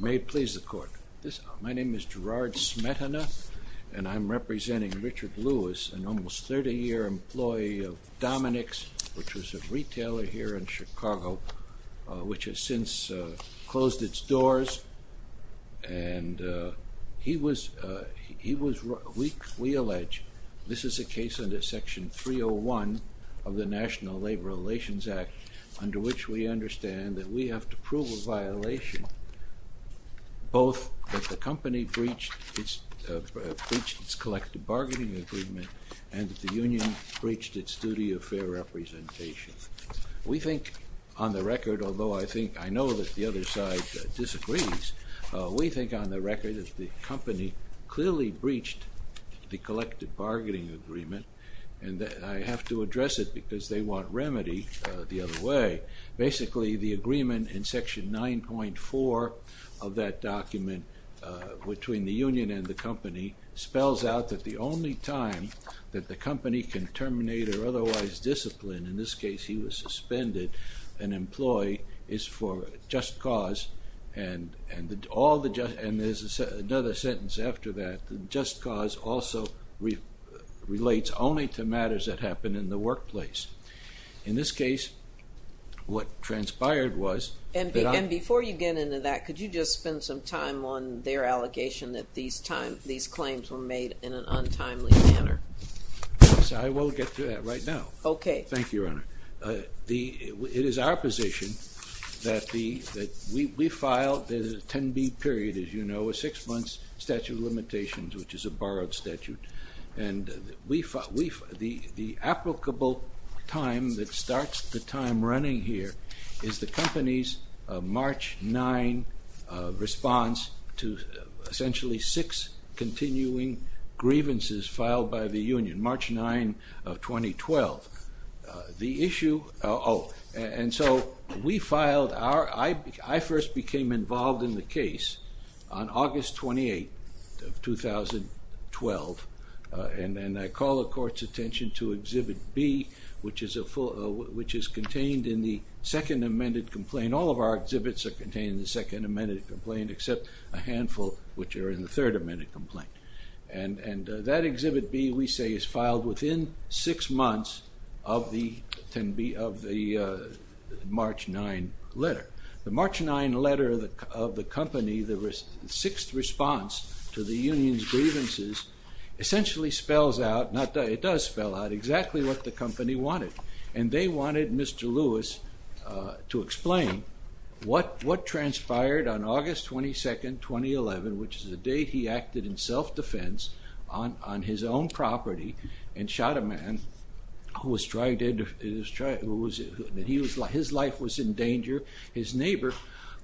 May it please the court. My name is Gerard Smetana, and I'm representing Richard Lewis, an almost 30-year employee of Dominick's, which is a retailer here in Chicago, which has since closed its doors. And we allege this is a case under Section 301 of the National Labor Relations Act, under which we understand that we have to prove a violation, both that the company breached its collective bargaining agreement and that the union breached its duty of fair representation. We think on the record, although I know that the other side disagrees, we think on the record that the company clearly breached the collective bargaining agreement, and I have to address it because they want remedy the other way. Basically, the agreement in Section 9.4 of that document between the union and the company spells out that the only time that the company can terminate or otherwise discipline, in this case he was suspended, an employee, is for just cause. And there's another sentence after that. Just cause also relates only to matters that happen in the workplace. In this case, what transpired was... And before you get into that, could you just spend some time on their allegation that these claims were made in an untimely manner? I will get to that right now. Thank you, Your Honor. It is our position that we filed the 10B period, as you know, a six-month statute of limitations, which is a borrowed statute. And the applicable time that starts the time running here is the company's March 9 response to essentially six continuing grievances filed by the union, March 9 of 2012. The issue... Oh, and so we filed our... I first became involved in the case on August 28 of 2012, and I call the Court's attention to Exhibit B, which is contained in the second amended complaint. All of our exhibits are contained in the second amended complaint, except a handful which are in the third amended complaint. And that Exhibit B, we say, is filed within six months of the March 9 letter. The March 9 letter of the company, the sixth response to the union's grievances, essentially spells out, it does spell out exactly what the company wanted. And they wanted Mr. Lewis to explain what transpired on August 22, 2011, which is the date he acted in self-defense on his own property and shot a man who was trying to... His life was in danger. His neighbor,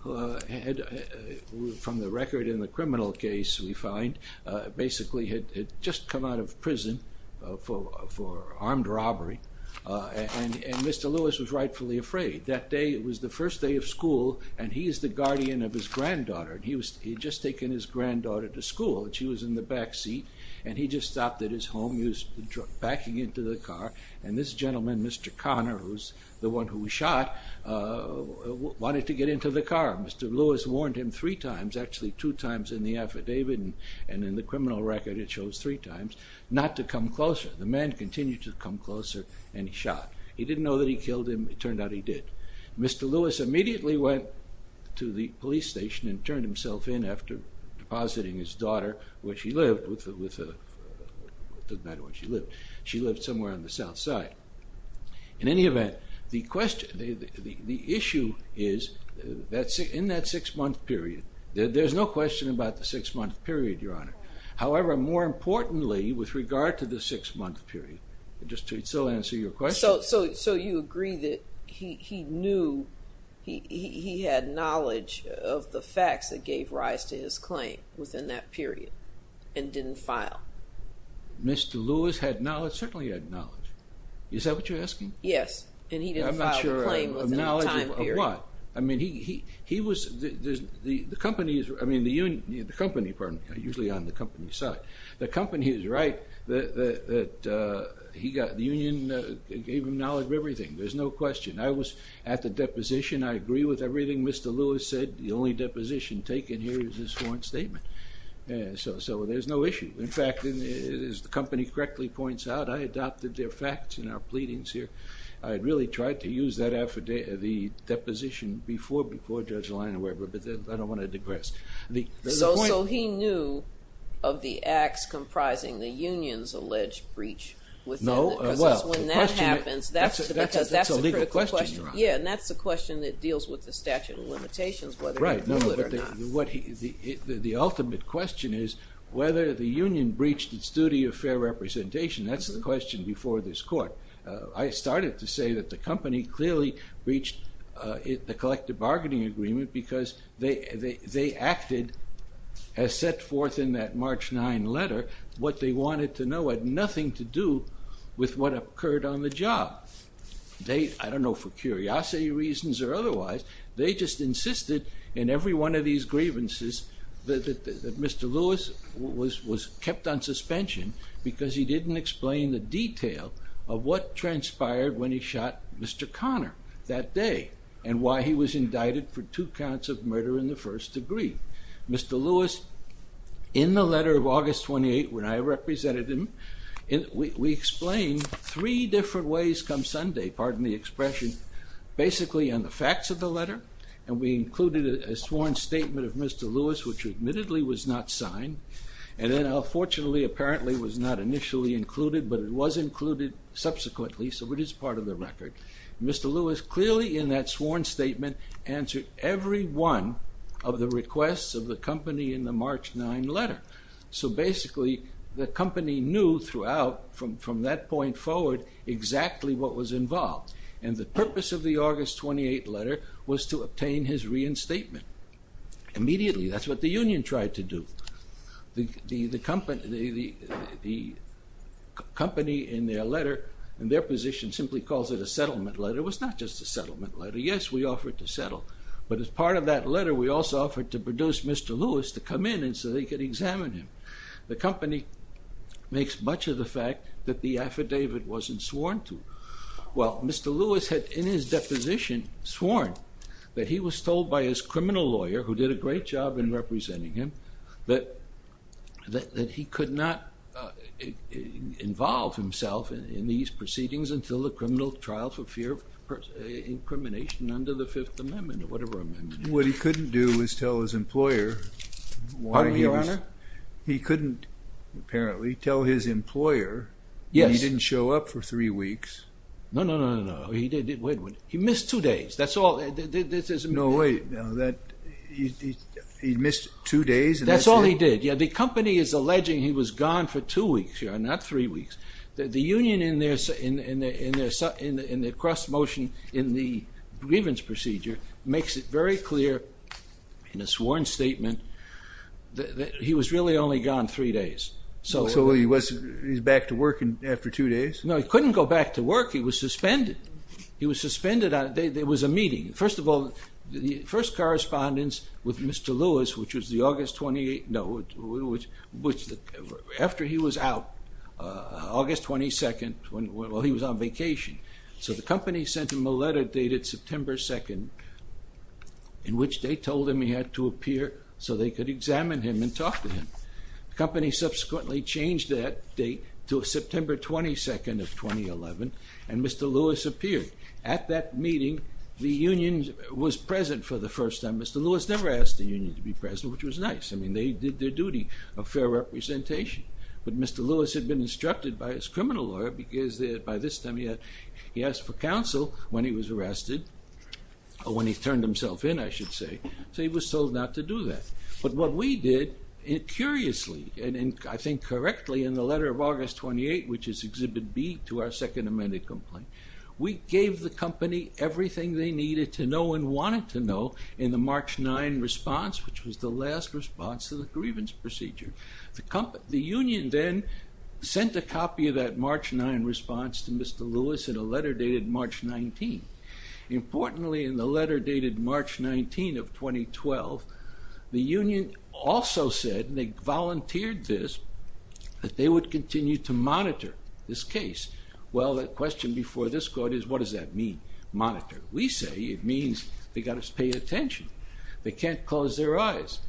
from the record in the criminal case we find, basically had just come out of prison for armed robbery, and Mr. Lewis was rightfully afraid. That day was the first day of school, and he is the guardian of his granddaughter, and he had just taken his granddaughter to school. She was in the back seat, and he just stopped at his home, he was backing into the car, and this gentleman, Mr. Connor, who was the one who was shot, wanted to get into the car. Mr. Lewis warned him three times, actually two times in the affidavit, and in the criminal record it shows three times, not to come closer. The man continued to come closer, and he shot. He didn't know that he killed him. It turned out he did. Mr. Lewis immediately went to the police station and turned himself in after depositing his daughter where she lived. It doesn't matter where she lived. She lived somewhere on the south side. In any event, the issue is, in that six-month period, there's no question about the six-month period, Your Honor. However, more importantly, with regard to the six-month period, just to still answer your question... So you agree that he knew, he had knowledge of the facts that gave rise to his claim within that period, and didn't file? Mr. Lewis had knowledge, certainly had knowledge. Is that what you're asking? Yes, and he didn't file the claim within that time period. I mean, he was, the company, usually on the company's side, the company is right that he got, the union gave him knowledge of everything. There's no question. I was at the deposition. I agree with everything Mr. Lewis said. The only deposition taken here is his sworn statement. So there's no issue. In fact, as the company correctly points out, I adopted their facts in our pleadings here. I had really tried to use that affidavit, the deposition, before Judge Leina Weber, but I don't want to digress. So he knew of the acts comprising the union's alleged breach? No, well... Because that's when that happens. That's a legal question, Your Honor. Yeah, and that's a question that deals with the statute of limitations, whether he knew it or not. The ultimate question is whether the union breached its duty of fair representation. That's the question before this court. I started to say that the company clearly breached the collective bargaining agreement because they acted, as set forth in that March 9 letter, what they wanted to know had nothing to do with what occurred on the job. I don't know for curiosity reasons or otherwise, they just insisted in every one of these grievances that Mr. Lewis was kept on suspension because he didn't explain the detail of what transpired when he shot Mr. Conner that day, and why he was indicted for two counts of murder in the first degree. Mr. Lewis, in the letter of August 28, when I represented him, we explained three different ways come Sunday, pardon the expression, basically on the facts of the letter, and we included a sworn statement of Mr. Lewis, which admittedly was not signed, and then unfortunately, apparently, was not initially included, but it was included subsequently, so it is part of the record. Mr. Lewis clearly in that sworn statement answered every one of the requests of the company in the March 9 letter, so basically, the company knew throughout from that point forward exactly what was involved, and the purpose of the August 28 letter was to obtain his reinstatement. Immediately, that's what the union tried to do. The company in their letter, in their position, simply calls it a settlement letter. It was not just a settlement letter. Yes, we offered to settle, but as part of that letter, we also offered to produce Mr. Lewis to come in so they could examine him. The company makes much of the fact that the affidavit wasn't sworn to. Well, Mr. Lewis had in his deposition sworn that he was told by his criminal lawyer, who did a great job in representing him, that he could not involve himself in these proceedings until the criminal trial for fear of incrimination under the Fifth Amendment or whatever amendment it was. What he couldn't do was tell his employer. He couldn't, apparently, tell his employer that he didn't show up for three weeks. No, no, no, no, no. He missed two days. That's all. No, wait. He missed two days? That's all he did. The company is alleging he was gone for two weeks, not three weeks. The union in their cross-motion in the grievance procedure makes it very clear in a sworn statement that he was really only gone three days. So he's back to work after two days? No, he couldn't go back to work. He was suspended. He was suspended. There was a meeting. First of all, the first correspondence with Mr. Lewis, which was the August 28th, no, after he was out, August 22nd, while he was on vacation. So the company sent him a letter dated September 2nd, in which they told him he had to appear so they could examine him and talk to him. The company subsequently changed that date to September 22nd of 2011, and Mr. Lewis appeared. At that meeting, the union was present for the first time. Mr. Lewis never asked the union to be present, which was nice. I mean, they did their duty of fair representation. But Mr. Lewis had been instructed by his criminal lawyer because by this time he had, he asked for counsel when he was arrested, or when he turned himself in, I should say. So he was told not to do that. But what we did, curiously, and I think correctly, in the letter of August 28, which is Exhibit B to our second amended complaint, we gave the company everything they needed to know and wanted to know in the March 9 response, which was the last response to the grievance procedure. The union then sent a copy of that March 9 response to Mr. Lewis in a letter dated March 19. Importantly, in the letter dated March 19 of 2012, the union also said, and they volunteered this, that they would continue to monitor this case. Well, the question before this court is, what does that mean, monitor? We say it means they've got to pay attention. They can't close their eyes.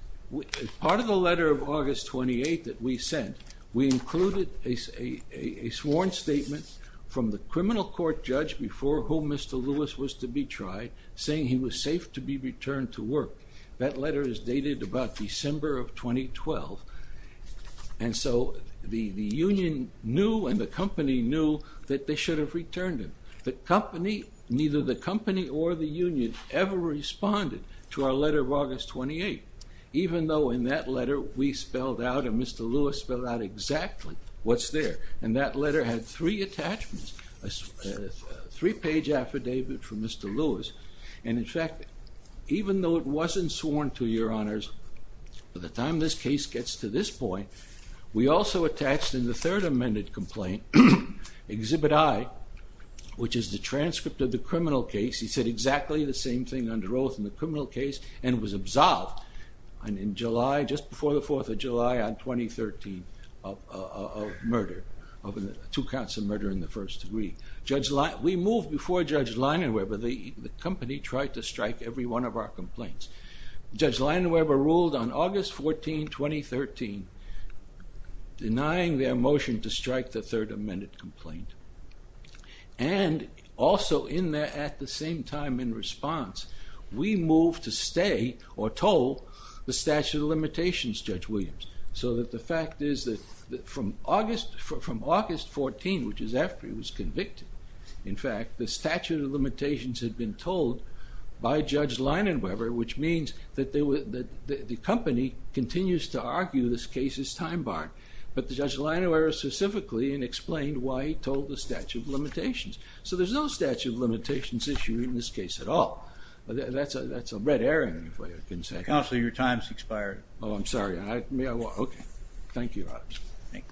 Part of the letter of August 28 that we sent, we included a sworn statement from the criminal court judge before whom Mr. Lewis was to be tried, saying he was safe to be returned to work. That letter is dated about December of 2012. And so the union knew and the company knew that they should have returned him. The company, neither the company or the union ever responded to our letter of August 28, even though in that letter we spelled out, and Mr. Lewis spelled out exactly what's there. And that letter had three attachments, a three-page affidavit from Mr. Lewis. And in fact, even though it wasn't sworn to your honors, by the time this case gets to this point, we also attached in the third amended complaint, Exhibit I, which is the transcript of the criminal case. He said exactly the same thing under oath in the criminal case and was absolved in July, just before the 4th of July on 2013 of murder, two counts of murder in the first degree. Judge, we moved before Judge Leinenweber, the company tried to strike every one of our complaints. Judge Leinenweber ruled on August 14, 2013, denying their motion to strike the third amended complaint. And also in that, at the same time in response, we moved to stay or told the statute of limitations, Judge Williams. So that the fact is that from August 14, which is after he was convicted, in fact, the statute of limitations had been told by Judge Leinenweber, which means that the company continues to argue this case is time-barred. But Judge Leinenweber specifically explained why he told the statute of limitations. So there's no statute of limitations issue in this case at all. That's a red herring, if I can say. Counsel, your time has expired. Oh, I'm sorry. May I walk? Okay. Thank you, Your Honors. Thank you.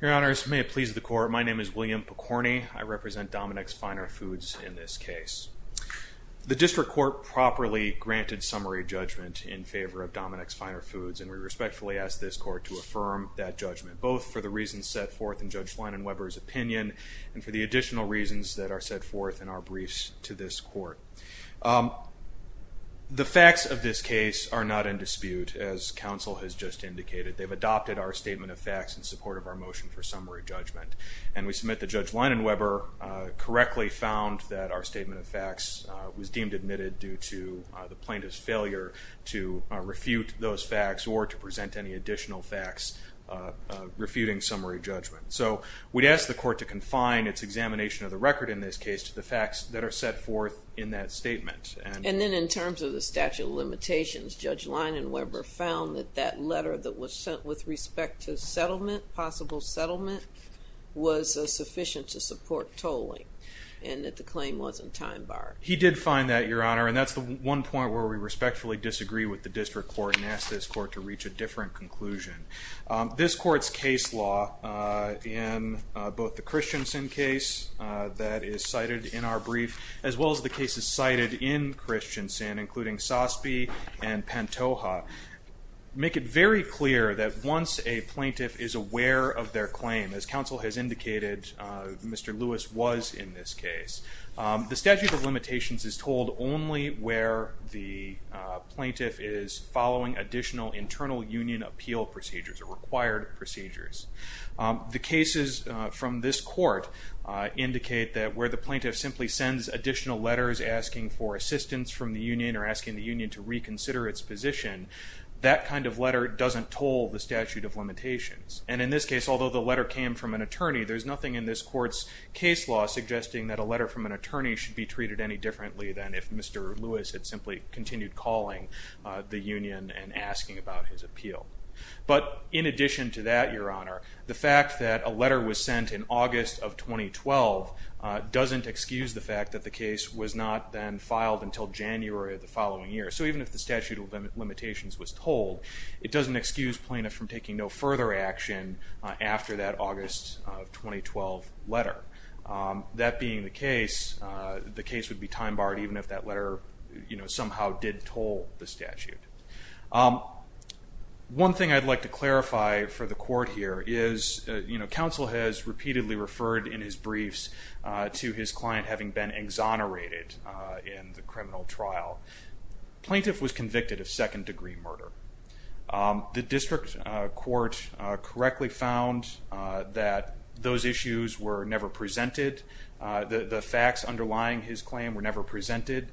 Your Honors, may it please the Court, my name is William Picorni. I represent Dominick's Finer Foods in this case. The district court properly granted summary judgment in favor of Dominick's Finer Foods. And we respectfully ask this court to affirm that judgment, both for the reasons set forth in Judge Leinenweber's opinion and for the additional reasons that are set forth in our briefs to this court. The facts of this case are not in dispute, as counsel has just indicated. They've adopted our statement of facts in support of our motion for summary judgment. And we submit that Judge Leinenweber correctly found that our statement of facts was deemed admitted due to the plaintiff's failure to refute those facts or to present any additional facts refuting summary judgment. So we'd ask the court to confine its examination of the record in this case to the facts that are set forth in that statement. And then in terms of the statute of limitations, Judge Leinenweber found that that letter that was sent with respect to settlement, possible settlement, was sufficient to support tolling and that the claim wasn't time-barred. He did find that, Your Honor, and that's the one point where we respectfully disagree with the district court and ask this court to reach a different conclusion. This court's case law in both the Christensen case that is cited in our brief, as well as the cases cited in Christensen, including Sospi and Pantoja, make it very clear that once a plaintiff is aware of their claim, as counsel has indicated Mr. Lewis was in this case, the statute of limitations is told only where the plaintiff is following additional internal union appeal procedures, or required procedures. The cases from this court indicate that where the plaintiff simply sends additional letters asking for assistance from the union or asking the union to reconsider its position, that kind of letter doesn't toll the statute of limitations. And in this case, although the letter came from an attorney, there's nothing in this court's case law suggesting that a letter from an attorney should be treated any differently than if Mr. Lewis had simply continued calling the union and asking about his appeal. But in addition to that, Your Honor, the fact that a letter was sent in August of 2012 doesn't excuse the fact that the case was not then filed until January of the following year. So even if the statute of limitations was told, it doesn't excuse plaintiff from taking no further action after that August of 2012 letter. That being the case, the case would be time-barred even if that letter somehow did toll the statute. One thing I'd like to clarify for the court here is counsel has repeatedly referred in his briefs to his client having been exonerated in the criminal trial. Plaintiff was convicted of second-degree murder. The district court correctly found that those issues were never presented. The facts underlying his claim were never presented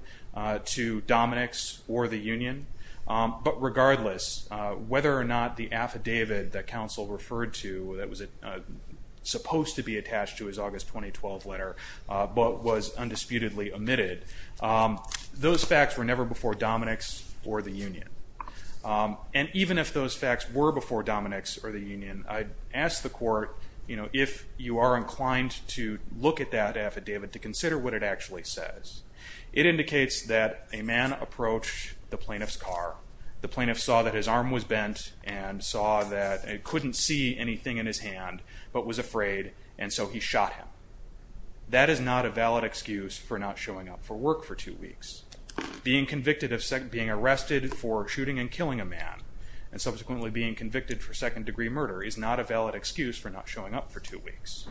to Dominick's or the union. But regardless, whether or not the affidavit that counsel referred to that was supposed to be attached to his August 2012 letter but was undisputedly omitted, those facts were never before Dominick's or the union. And even if those facts were before Dominick's or the union, I'd ask the court if you are inclined to look at that affidavit to consider what it actually says. It indicates that a man approached the plaintiff's car. The plaintiff saw that his arm was bent and saw that he couldn't see anything in his hand but was afraid, and so he shot him. That is not a valid excuse for not showing up for work for two weeks. Being arrested for shooting and killing a man and subsequently being convicted for second-degree murder is not a valid excuse for not showing up for two weeks.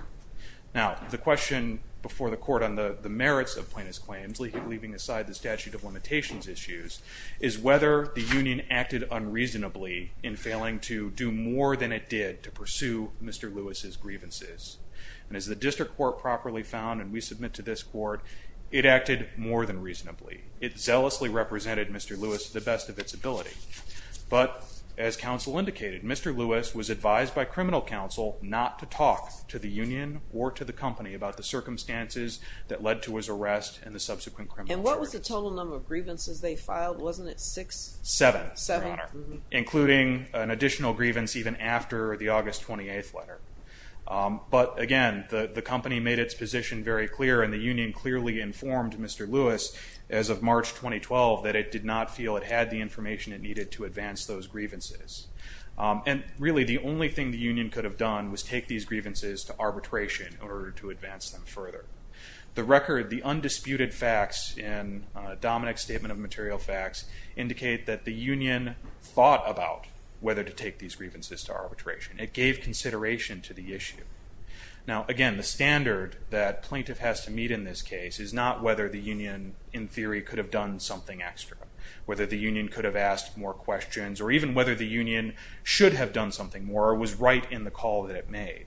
Now, the question before the court on the merits of plaintiff's claims, leaving aside the statute of limitations issues, is whether the union acted unreasonably in failing to do more than it did to pursue Mr. Lewis's grievances. And as the district court properly found, and we submit to this court, it acted more than reasonably. It zealously represented Mr. Lewis to the best of its ability. But, as counsel indicated, Mr. Lewis was advised by criminal counsel not to talk to the union or to the company about the circumstances that led to his arrest and the subsequent criminal charges. And what was the total number of grievances they filed? Wasn't it six? Seven, Your Honor, including an additional grievance even after the August 28th letter. But, again, the company made its position very clear and the union clearly informed Mr. Lewis as of March 2012 that it did not feel it had the information it needed to advance those grievances. And, really, the only thing the union could have done was take these grievances to arbitration in order to advance them further. The record, the undisputed facts in Dominick's Statement of Material Facts, indicate that the union thought about whether to take these grievances to arbitration. It gave consideration to the issue. Now, again, the standard that plaintiff has to meet in this case is not whether the union, in theory, could have done something extra. Whether the union could have asked more questions or even whether the union should have done something more was right in the call that it made.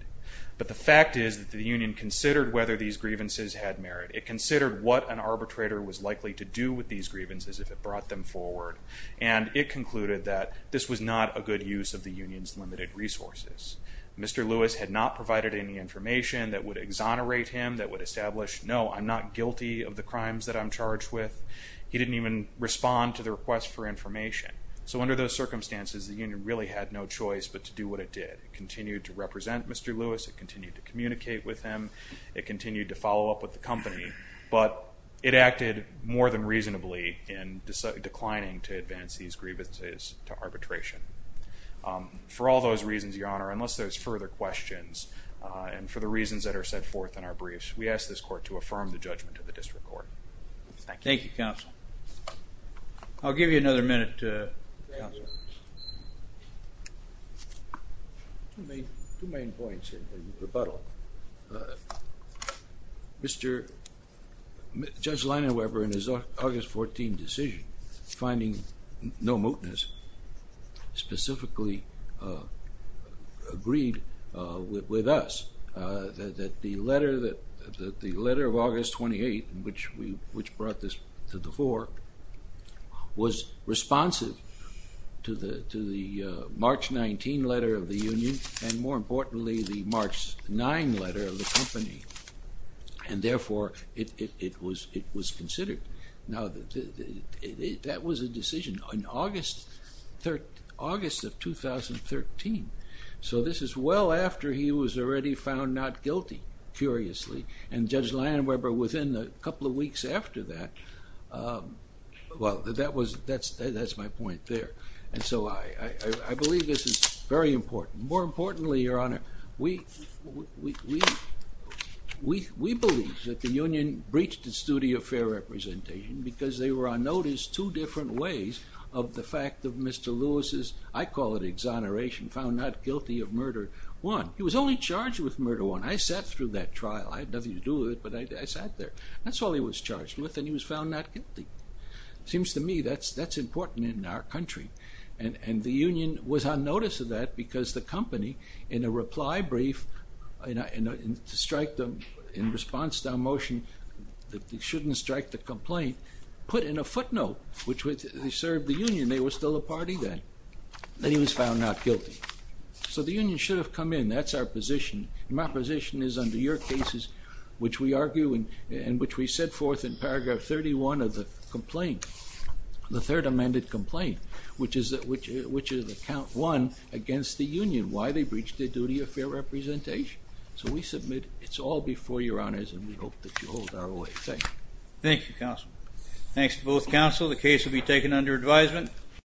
But the fact is that the union considered whether these grievances had merit. It considered what an arbitrator was likely to do with these grievances if it brought them forward. And it concluded that this was not a good use of the union's limited resources. Mr. Lewis had not provided any information that would exonerate him, that would establish, no, I'm not guilty of the crimes that I'm charged with. He didn't even respond to the request for information. So under those circumstances, the union really had no choice but to do what it did. It continued to represent Mr. Lewis. It continued to communicate with him. It continued to follow up with the company. But it acted more than reasonably in declining to advance these grievances to arbitration. For all those reasons, Your Honor, unless there's further questions and for the reasons that are set forth in our briefs, we ask this court to affirm the judgment of the district court. Thank you. Thank you, Counsel. I'll give you another minute, Counsel. Two main points in rebuttal. Mr. Judge Leinerweber, in his August 14 decision, finding no mootness, specifically agreed with us that the letter of August 28, which brought this to the fore, was responsive to the March 19 letter of the union and, more importantly, the March 9 letter of the company. And therefore, it was considered. Now, that was a decision in August of 2013. So this is well after he was already found not guilty, curiously. And Judge Leinerweber, within a couple of weeks after that, well, that's my point there. And so I believe this is very important. More importantly, Your Honor, we believe that the union breached its duty of fair representation because they were on notice two different ways of the fact of Mr. Lewis's, I call it exoneration, found not guilty of murder one. He was only charged with murder one. I sat through that trial. I had nothing to do with it, but I sat there. That's all he was charged with, and he was found not guilty. Seems to me that's important in our country. And the union was on notice of that because the company, in a reply brief, to strike them in response to our motion that they shouldn't strike the complaint, put in a footnote, which they served the union. They were still a party then. And he was found not guilty. So the union should have come in. That's our position. And my position is under your cases, which we argue and which we set forth in paragraph 31 of the complaint, the third amended complaint, which is account one against the union, why they breached their duty of fair representation. So we submit it's all before your honors, and we hope that you hold our way. Thank you. Thank you, counsel. Thanks to both counsel. The case will be taken under advisement.